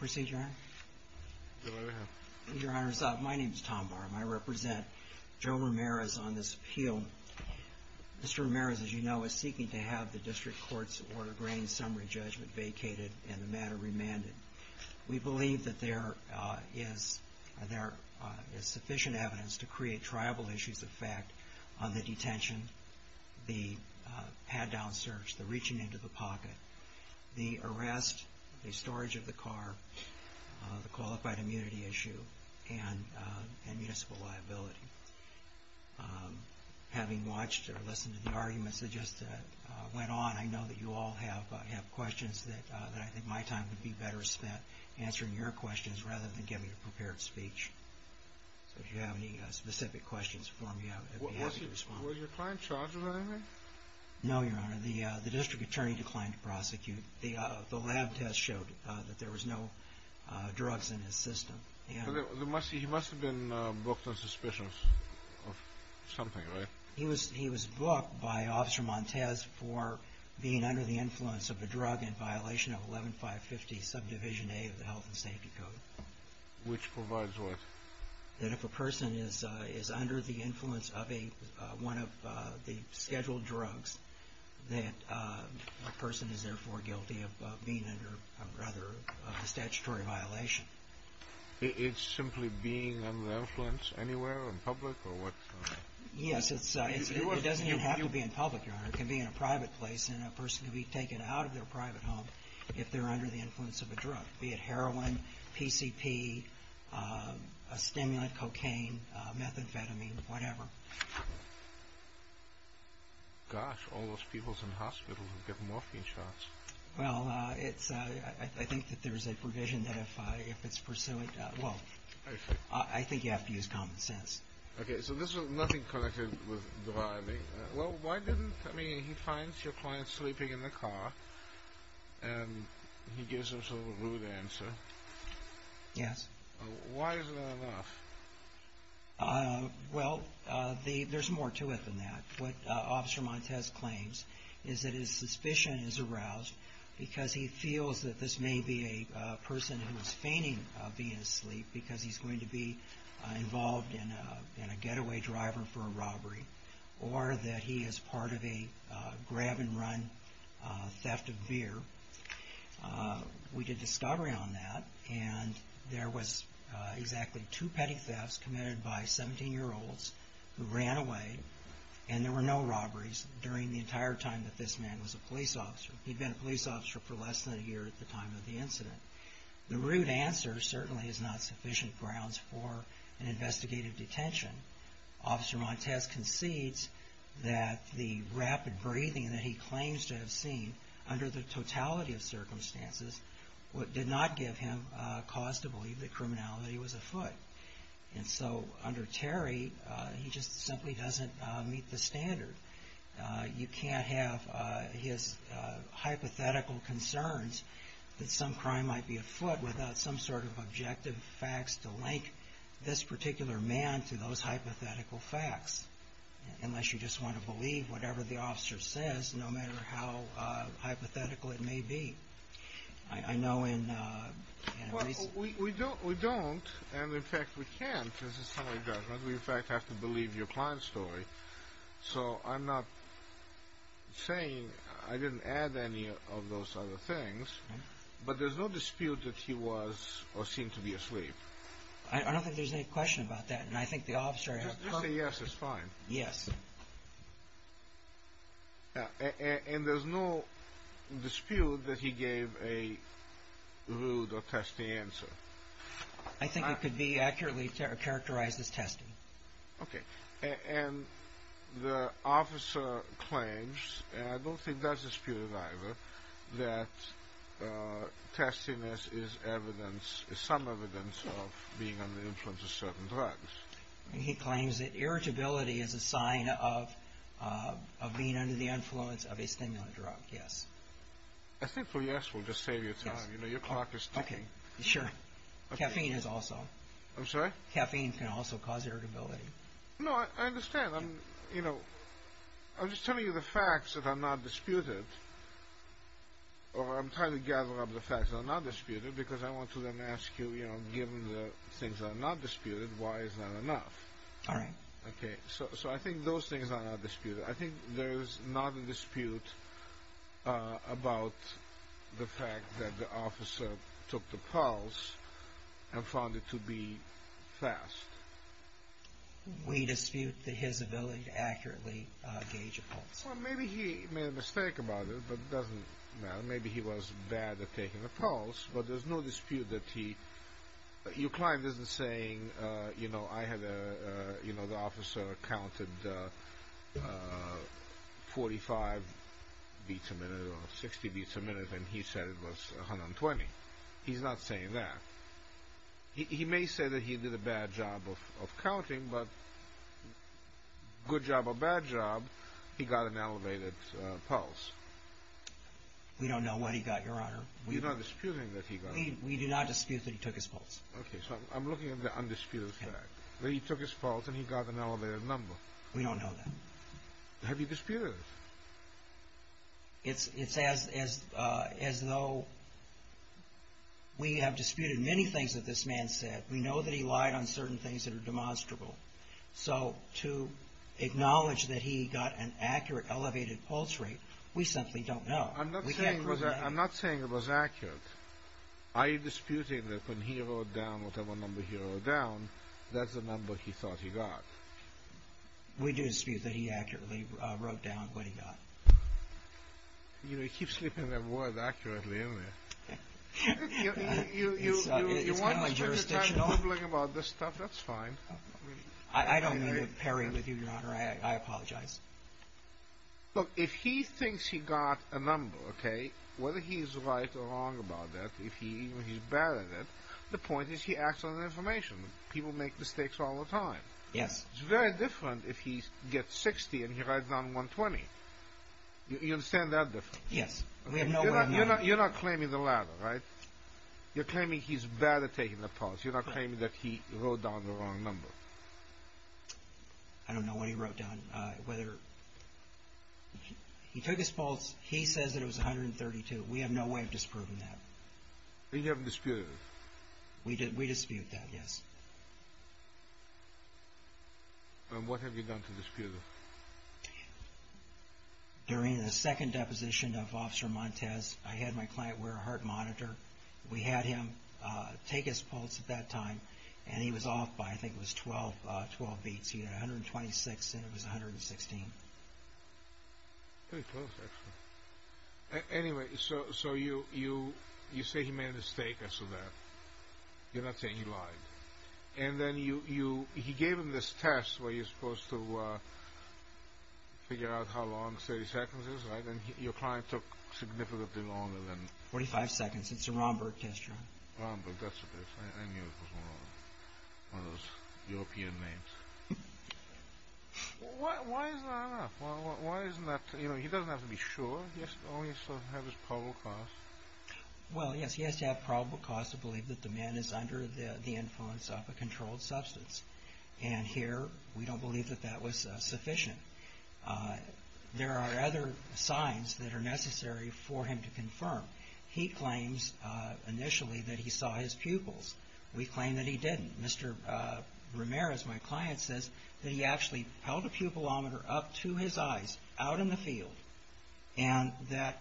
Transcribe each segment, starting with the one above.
My name is Tom Barham. I represent Joe Ramirez on this appeal. Mr. Ramirez, as you know, is seeking to have the District Court's Order of Granting Summary Judgment vacated and the matter remanded. We believe that there is sufficient evidence to create triable issues of fact on the detention, the paddown search, the reaching into the pocket, the arrest, the storage of the car, the qualified immunity issue, and municipal liability. Having watched or listened to the arguments that just went on, I know that you all have questions that I think my time would be better spent answering your questions rather than giving a prepared speech. So if you have any specific questions for me, I'll be happy to respond. Was your client charged with anything? No, Your Honor. The District Attorney declined to prosecute. The lab test showed that there was no drugs in his system. He must have been booked on suspicion of something, right? He was booked by Officer Montez for being under the influence of a drug in violation of 11-550 subdivision A of the Health and Safety Code. Which provides what? That if a person is under the influence of one of the scheduled drugs, that a person is therefore guilty of being under, rather, a statutory violation. It's simply being under the influence anywhere? In public or what? Yes, it doesn't even have to be in public, Your Honor. It can be in a private place and a person can be taken out of their private home if they're under the influence of a drug. Be it heroin, PCP, a stimulant, cocaine, methamphetamine, whatever. Gosh, all those people in hospitals who get morphine shots. Well, it's, I think that there's a provision that if it's pursuant, well, I think you have to use common sense. Okay, so this is nothing connected with driving. Well, why didn't, I mean, he finds your client sleeping in the car and he gives himself a rude answer. Yes. Why is that enough? Well, there's more to it than that. What Officer Montez claims is that his suspicion is aroused because he feels that this may be a person who is feigning being asleep because he's going to be involved in a getaway driver for a robbery or that he is part of a grab and run theft of beer. We did discovery on that and there was exactly two petty thefts committed by 17-year-olds who ran away and there were no robberies during the entire time that this man was a police officer. He'd been a police officer for less than a year at the time of the incident. The rude answer certainly is not sufficient grounds for an investigative detention. Officer Montez concedes that the rapid breathing that he claims to have seen under the totality of circumstances did not give him cause to believe that criminality was afoot. And so under Terry, he just simply doesn't meet the standard. You can't have his hypothetical concerns that some crime might be afoot without some sort of objective facts to link this particular man to those hypothetical facts. Unless you just want to believe whatever the officer says, no matter how hypothetical it may be. Well, we don't and in fact we can't. We in fact have to believe your client's story. So I'm not saying I didn't add any of those other things, but there's no dispute that he was or seemed to be asleep. I don't think there's any question about that and I think the officer... If you say yes, it's fine. Yes. And there's no dispute that he gave a rude or testy answer. I think it could be accurately characterized as testy. Okay. And the officer claims, and I don't think that's disputed either, that testiness is evidence, is some evidence of being under the influence of certain drugs. He claims that irritability is a sign of being under the influence of a stimulant drug. Yes. I think for yes, we'll just save you time. Your clock is ticking. Okay. Sure. Caffeine is also. I'm sorry? Caffeine can also cause irritability. No, I understand. I'm just telling you the facts that are not disputed. I'm trying to gather up the facts that are not disputed because I want to then ask you, given the things that are not disputed, why is that enough? All right. Okay, so I think those things are not disputed. I think there's not a dispute about the fact that the officer took the pulse and found it to be fast. Well, maybe he made a mistake about it, but it doesn't matter. Maybe he was bad at taking the pulse, but there's no dispute that he. Your client isn't saying, you know, I had a, you know, the officer counted 45 beats a minute or 60 beats a minute, and he said it was 120. He's not saying that. He may say that he did a bad job of counting, but good job or bad job, he got an elevated pulse. We don't know what he got, Your Honor. You're not disputing that he got it. We do not dispute that he took his pulse. Okay, so I'm looking at the undisputed fact, that he took his pulse and he got an elevated number. We don't know that. Have you disputed it? It's as though we have disputed many things that this man said. We know that he lied on certain things that are demonstrable. So to acknowledge that he got an accurate elevated pulse rate, we simply don't know. I'm not saying it was accurate. Are you disputing that when he wrote down whatever number he wrote down, that's the number he thought he got? We do dispute that he accurately wrote down what he got. You keep slipping that word accurately in there. It's kind of jurisdictional. If you want to spend your time rambling about this stuff, that's fine. I don't mean to parry with you, Your Honor. I apologize. Look, if he thinks he got a number, okay, whether he's right or wrong about that, if he's bad at it, the point is he acts on the information. People make mistakes all the time. Yes. It's very different if he gets 60 and he writes down 120. You understand that difference? Yes. You're not claiming the latter, right? You're claiming he's bad at taking the pulse. You're not claiming that he wrote down the wrong number. I don't know what he wrote down. He took his pulse. He says that it was 132. We have no way of disproving that. You haven't disputed it? We dispute that, yes. What have you done to dispute it? During the second deposition of Officer Montez, I had my client wear a heart monitor. We had him take his pulse at that time, and he was off by I think it was 12 beats. He had 126 and it was 116. Pretty close, actually. Anyway, so you say he made a mistake as to that. You're not saying he lied. And then he gave him this test where you're supposed to figure out how long 30 seconds is, right? And your client took significantly longer than that. 45 seconds. It's a Romberg test run. Romberg, that's what it is. I knew it was wrong. One of those European names. Why is that enough? He doesn't have to be sure. He has to have probable cause. Well, yes, he has to have probable cause to believe that the man is under the influence of a controlled substance. And here we don't believe that that was sufficient. There are other signs that are necessary for him to confirm. He claims initially that he saw his pupils. We claim that he didn't. Mr. Ramirez, my client, says that he actually held a pupilometer up to his eyes out in the field and that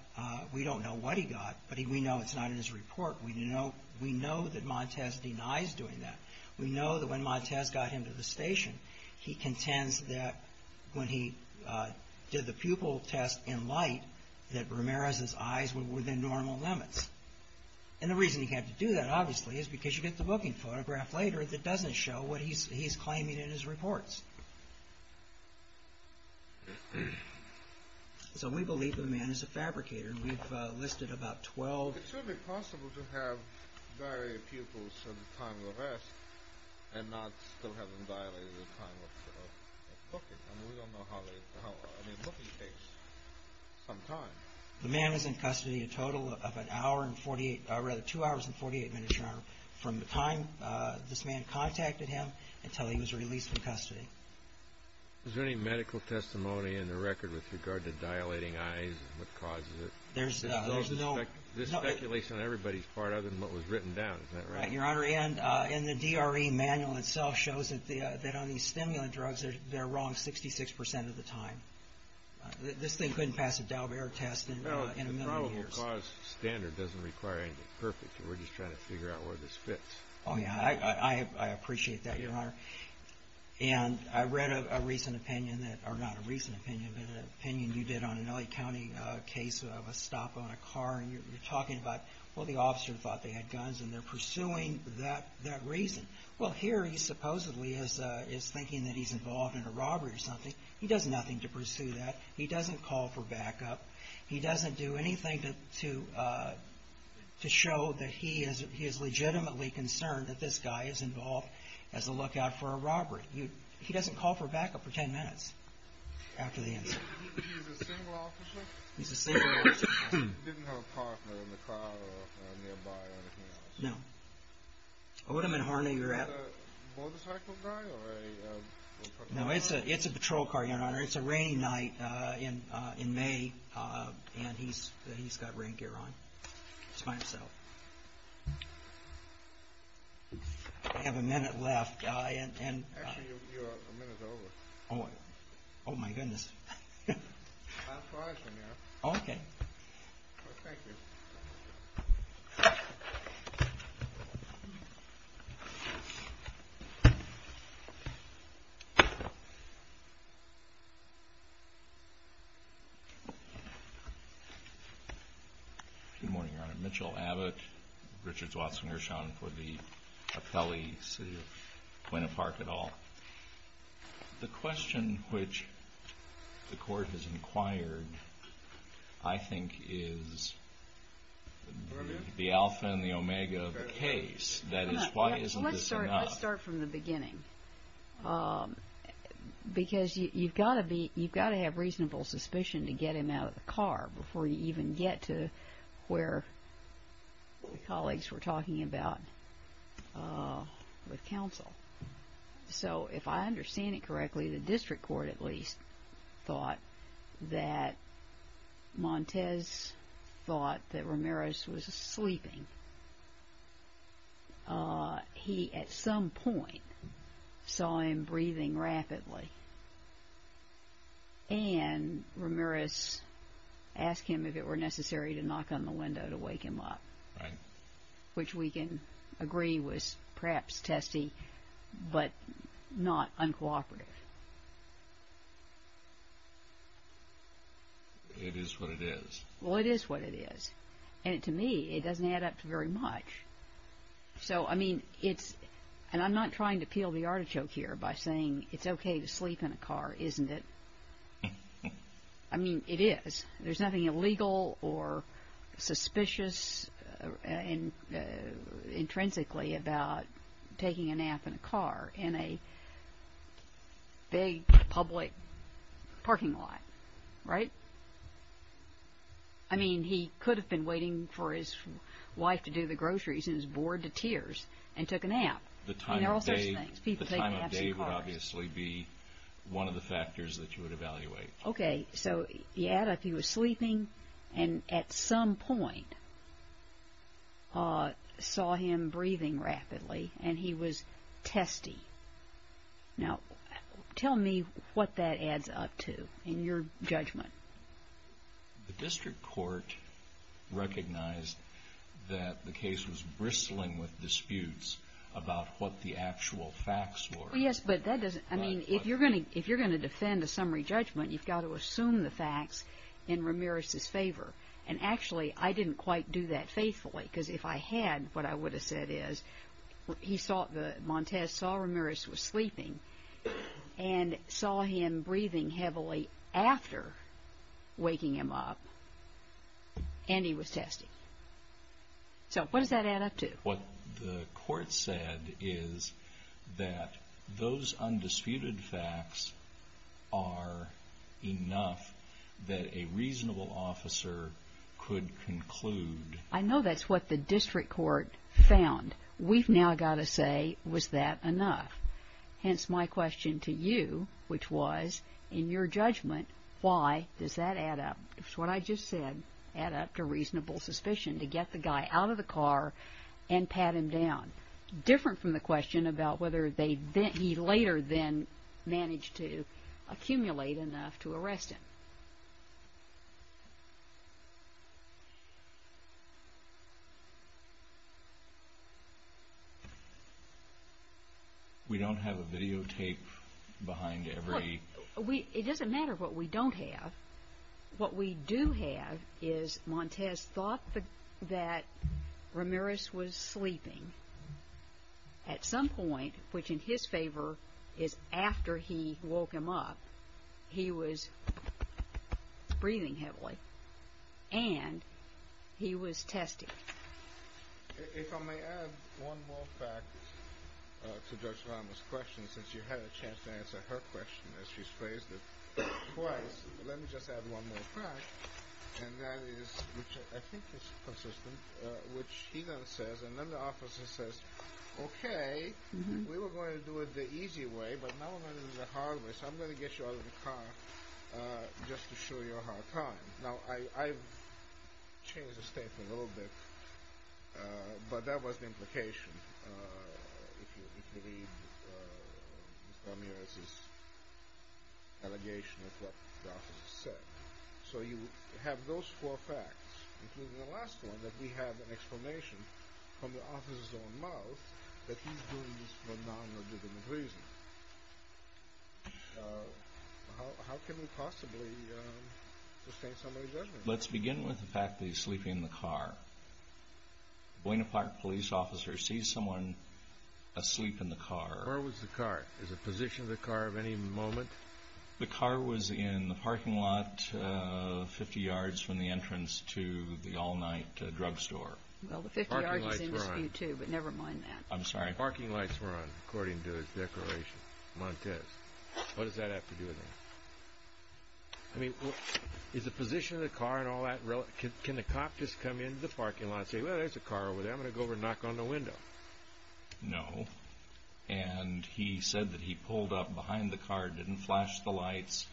we don't know what he got, but we know it's not in his report. We know that Montez denies doing that. We know that when Montez got him to the station, he contends that when he did the pupil test in light, that Ramirez's eyes were within normal limits. And the reason he had to do that, obviously, is because you get the booking photograph later that doesn't show what he's claiming in his reports. So we believe the man is a fabricator. We've listed about 12. It's certainly possible to have diarrheal pupils at the time of arrest and not still have them dilated at the time of booking. I mean, we don't know how long. I mean, booking takes some time. The man was in custody a total of two hours and 48 minutes, Your Honor, from the time this man contacted him until he was released from custody. Is there any medical testimony in the record with regard to dilating eyes and what causes it? There's speculation on everybody's part other than what was written down. Is that right? Your Honor, and the DRE manual itself shows that on these stimulant drugs, they're wrong 66% of the time. This thing couldn't pass a Dalbert test in a million years. Well, the probable cause standard doesn't require anything perfect. We're just trying to figure out where this fits. Oh, yeah, I appreciate that, Your Honor. And I read a recent opinion that—or not a recent opinion, but an opinion you did on an L.A. County case of a stop on a car, and you're talking about, well, the officer thought they had guns, and they're pursuing that reason. Well, here he supposedly is thinking that he's involved in a robbery or something. He does nothing to pursue that. He doesn't call for backup. He doesn't do anything to show that he is legitimately concerned that this guy is involved as a lookout for a robbery. He doesn't call for backup for 10 minutes after the incident. He's a single officer? He's a single officer. He didn't have a partner in the car or nearby or anything else? No. Odom and Harney, you're at? A motorcycle guy or a— No, it's a patrol car, Your Honor. It's a rainy night in May, and he's got rain gear on. He's by himself. I have a minute left, and— Actually, your minute is over. Oh, my goodness. That's why I'm here. Okay. Well, thank you. Good morning, Your Honor. Mitchell Abbott, Richards Watson-Gershon for the Apelli City of Buena Park et al. The question which the Court has inquired, I think, is the alpha and the omega of the case. That is, why isn't this enough? Let me start from the beginning, because you've got to have reasonable suspicion to get him out of the car before you even get to where colleagues were talking about with counsel. So if I understand it correctly, the district court, at least, thought that Montez thought that Ramirez was sleeping. He, at some point, saw him breathing rapidly, and Ramirez asked him if it were necessary to knock on the window to wake him up. Right. Which we can agree was perhaps testy, but not uncooperative. It is what it is. Well, it is what it is, and to me, it doesn't add up to very much. So, I mean, it's – and I'm not trying to peel the artichoke here by saying it's okay to sleep in a car, isn't it? I mean, it is. There's nothing illegal or suspicious intrinsically about taking a nap in a car in a big public parking lot, right? I mean, he could have been waiting for his wife to do the groceries, and he was bored to tears and took a nap. I mean, there are all sorts of things. The time of day would obviously be one of the factors that you would evaluate. Okay. So, you add up he was sleeping, and at some point saw him breathing rapidly, and he was testy. Now, tell me what that adds up to in your judgment. The district court recognized that the case was bristling with disputes about what the actual facts were. Well, yes, but that doesn't – I mean, if you're going to defend a summary judgment, you've got to assume the facts in Ramirez's favor. And actually, I didn't quite do that faithfully, because if I had, what I would have said is Montez saw Ramirez was sleeping and saw him breathing heavily after waking him up, and he was testy. So, what does that add up to? What the court said is that those undisputed facts are enough that a reasonable officer could conclude. I know that's what the district court found. We've now got to say, was that enough? Hence, my question to you, which was, in your judgment, why does that add up? It's what I just said, add up to reasonable suspicion to get the guy out of the car and pat him down. Different from the question about whether he later then managed to accumulate enough to arrest him. We don't have a videotape behind every… It doesn't matter what we don't have. What we do have is Montez thought that Ramirez was sleeping at some point, which in his favor is after he woke him up, he was breathing heavily, and he was testy. If I may add one more fact to Judge Ramos' question, since you had a chance to answer her question as she's phrased it twice, let me just add one more fact, and that is, which I think is consistent, which he then says, and then the officer says, okay, we were going to do it the easy way, but now we're going to do it the hard way, so I'm going to get you out of the car just to show you a hard time. Now, I've changed the statement a little bit, but that was the implication, if you read Mr. Ramirez's allegation of what the officer said. So you have those four facts, including the last one, that we have an explanation from the officer's own mouth that he's doing this for non-legitimate reasons. How can we possibly sustain somebody's judgment? Let's begin with the fact that he's sleeping in the car. Buena Park police officer sees someone asleep in the car. Where was the car? Is the position of the car of any moment? The car was in the parking lot 50 yards from the entrance to the all-night drugstore. Well, 50 yards is in dispute, too, but never mind that. I'm sorry. The parking lights were on, according to his declaration, Montez. What does that have to do with anything? I mean, is the position of the car and all that relative? Can the cop just come into the parking lot and say, well, there's a car over there, I'm going to go over and knock on the window? No, and he said that he pulled up behind the car and didn't flash the lights.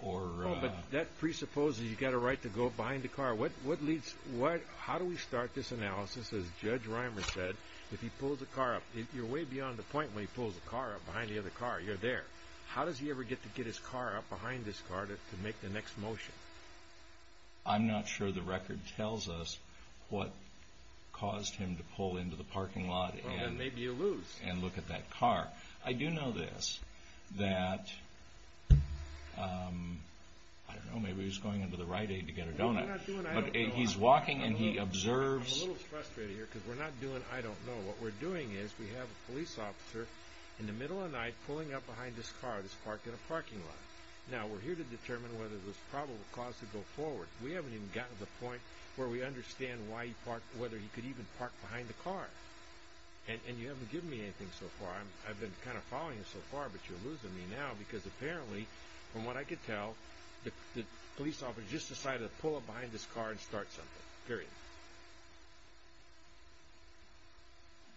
But that presupposes you've got a right to go behind the car. How do we start this analysis? As Judge Reimer said, if he pulls a car up, you're way beyond the point where he pulls a car up behind the other car, you're there. How does he ever get to get his car up behind this car to make the next motion? I'm not sure the record tells us what caused him to pull into the parking lot and look at that car. I do know this, that, I don't know, maybe he was going into the Rite Aid to get a donut. But he's walking and he observes. I'm a little frustrated here because we're not doing I don't know. What we're doing is we have a police officer in the middle of the night pulling up behind this car that's parked in a parking lot. Now, we're here to determine whether there's probable cause to go forward. We haven't even gotten to the point where we understand whether he could even park behind the car. And you haven't given me anything so far. I've been kind of following you so far, but you're losing me now because apparently, from what I could tell, the police officer just decided to pull up behind this car and start something, period.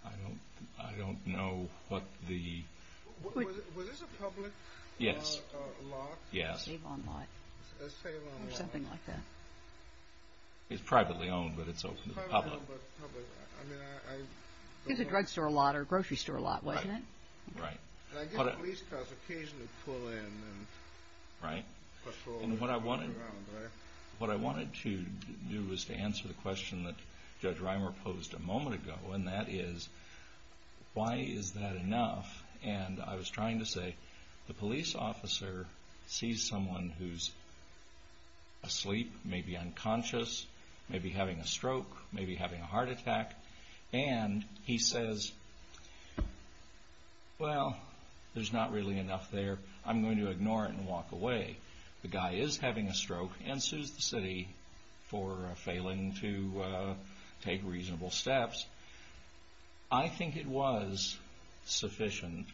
I don't know what the... Was this a public lot? Yes. A sale on lot. A sale on lot. Or something like that. It's privately owned, but it's open to the public. It's a drugstore lot or grocery store lot, wasn't it? Right. And I get police cars occasionally pull in and patrol around, right? What I wanted to do was to answer the question that Judge Reimer posed a moment ago, and that is, why is that enough? And I was trying to say, the police officer sees someone who's asleep, maybe unconscious, maybe having a stroke, maybe having a heart attack, and he says, well, there's not really enough there. I'm going to ignore it and walk away. The guy is having a stroke and sues the city for failing to take reasonable steps. I think it was sufficient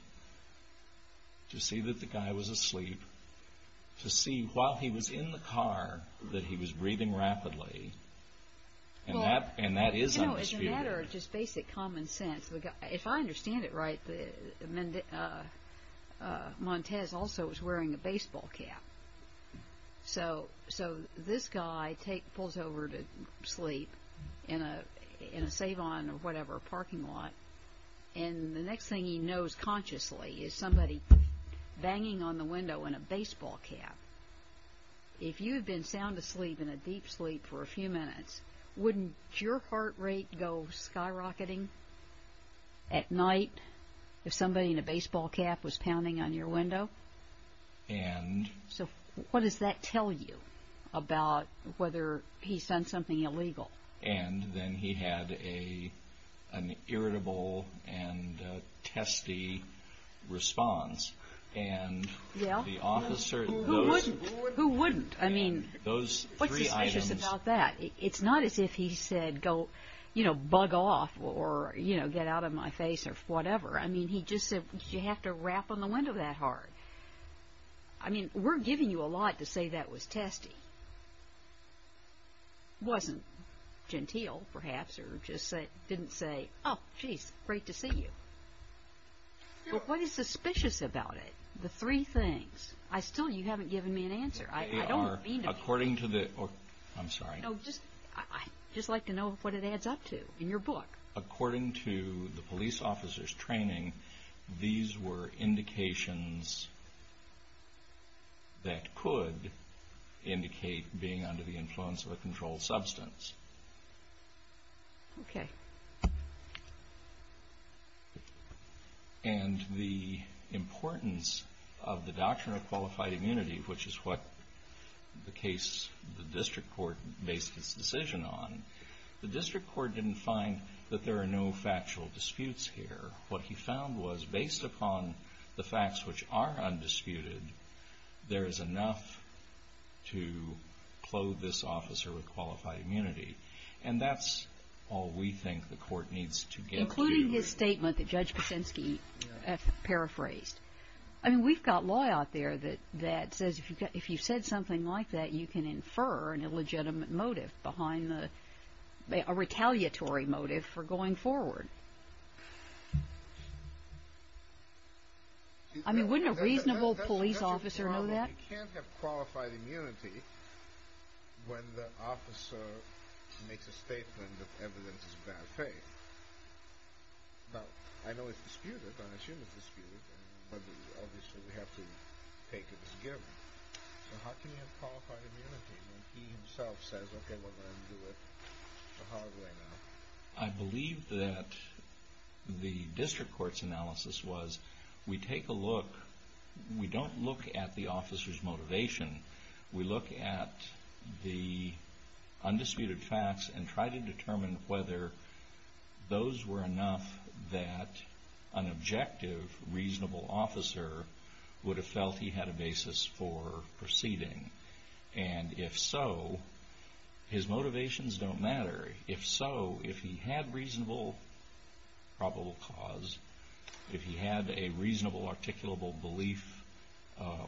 to see that the guy was asleep, to see while he was in the car that he was breathing rapidly, and that is undisputed. It's a matter of just basic common sense. If I understand it right, Montez also was wearing a baseball cap. So this guy pulls over to sleep in a Savon or whatever parking lot, and the next thing he knows consciously is somebody banging on the window in a baseball cap. If you had been sound asleep in a deep sleep for a few minutes, wouldn't your heart rate go skyrocketing at night if somebody in a baseball cap was pounding on your window? So what does that tell you about whether he's done something illegal? And then he had an irritable and testy response. Who wouldn't? I mean, what's suspicious about that? It's not as if he said, you know, bug off or get out of my face or whatever. I mean, he just said, you have to rap on the window that hard. I mean, we're giving you a lot to say that was testy. It wasn't genteel, perhaps, or just didn't say, oh, geez, great to see you. Well, what is suspicious about it? The three things. Still, you haven't given me an answer. I don't know. According to the – I'm sorry. No, I'd just like to know what it adds up to in your book. According to the police officer's training, these were indications that could indicate being under the influence of a controlled substance. Okay. And the importance of the doctrine of qualified immunity, which is what the case the district court based its decision on, the district court didn't find that there are no factual disputes here. What he found was, based upon the facts which are undisputed, there is enough to clothe this officer with qualified immunity. And that's all we think the court needs to get to. Including his statement that Judge Kuczynski paraphrased. I mean, we've got law out there that says if you've said something like that, you can infer an illegitimate motive behind a retaliatory motive for going forward. I mean, wouldn't a reasonable police officer know that? You can't have qualified immunity when the officer makes a statement of evidence of bad faith. Now, I know it's disputed. I assume it's disputed. Obviously, we have to take it as given. But how can you have qualified immunity when he himself says, okay, well, I'm going to do it the hard way now? I believe that the district court's analysis was, we take a look. We don't look at the officer's motivation. We look at the undisputed facts and try to determine whether those were enough that an objective, reasonable officer would have felt he had a basis for proceeding. And if so, his motivations don't matter. If so, if he had reasonable probable cause, if he had a reasonable articulable belief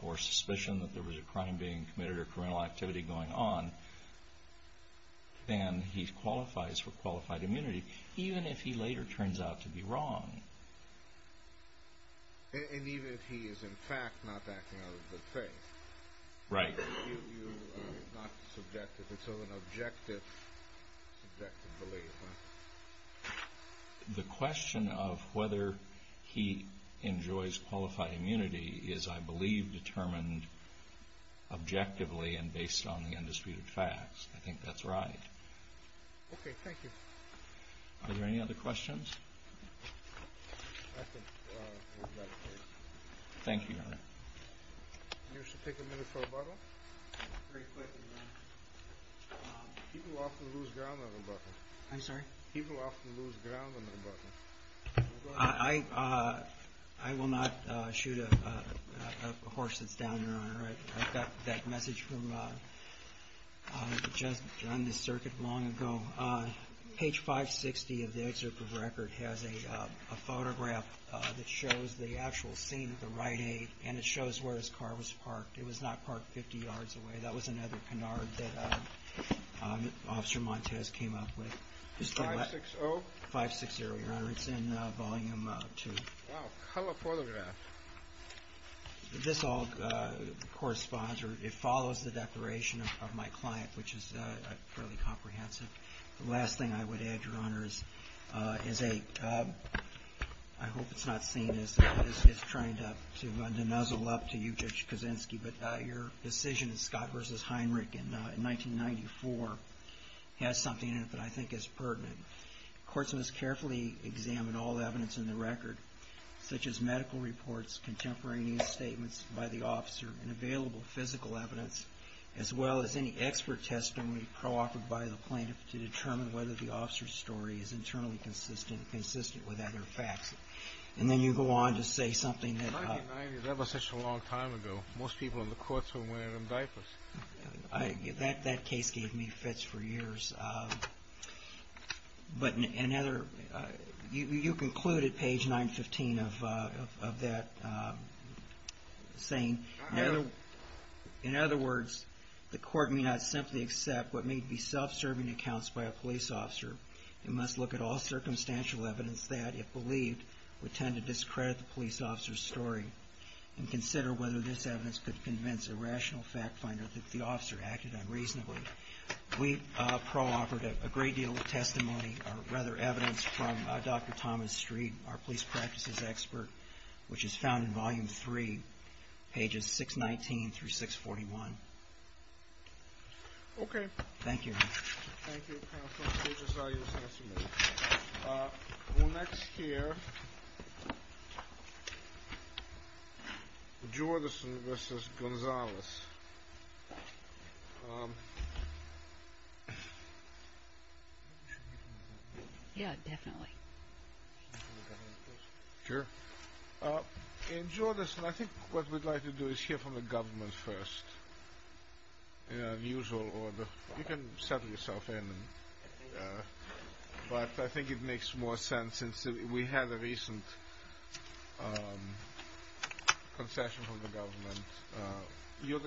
or suspicion that there was a crime being committed or criminal activity going on, then he qualifies for qualified immunity, even if he later turns out to be wrong. And even if he is, in fact, not acting out of good faith. Right. It's not subjective. It's of an objective belief. The question of whether he enjoys qualified immunity is, I believe, determined objectively and based on the undisputed facts. I think that's right. Okay, thank you. Are there any other questions? I think we've got a case. Thank you, Your Honor. You should take a minute for rebuttal. Very quickly, Your Honor. People often lose ground on rebuttal. I'm sorry? People often lose ground on rebuttal. Go ahead. I will not shoot a horse that's down, Your Honor. I've got that message from just on the circuit long ago. Page 560 of the excerpt of record has a photograph that shows the actual scene at the Rite Aid and it shows where his car was parked. It was not parked 50 yards away. That was another canard that Officer Montez came up with. 560? 560, Your Honor. It's in Volume 2. Wow. How about the photograph? This all corresponds or it follows the declaration of my client, which is fairly comprehensive. The last thing I would add, Your Honor, is a I hope it's not seen as trying to nuzzle up to you, Judge Kuczynski, but your decision in Scott v. Heinrich in 1994 has something in it that I think is pertinent. Courts must carefully examine all evidence in the record, such as medical reports, contemporary news statements by the officer, and available physical evidence, as well as any expert testimony pro-authored by the plaintiff to determine whether the officer's story is internally consistent with other facts. And then you go on to say something that 1990, that was such a long time ago. Most people in the courts were wearing them diapers. That case gave me fits for years. But you concluded, page 915, of that saying In other words, the court may not simply accept what may be self-serving accounts by a police officer. It must look at all circumstantial evidence that, if believed, would tend to discredit the police officer's story and consider whether this evidence could convince a rational fact finder that the officer acted unreasonably. We pro-authored a great deal of testimony, or rather evidence, from Dr. Thomas Streed, our police practices expert, which is found in Volume 3, pages 619 through 641. Okay. Thank you. Thank you, counsel. Thank you for your testimony. We'll next hear Jordison v. Gonzalez. Yeah, definitely. Sure. And, Jordison, I think what we'd like to do is hear from the government first. In an unusual order. You can settle yourself in. But I think it makes more sense, since we had a recent concession from the government. And you're the government.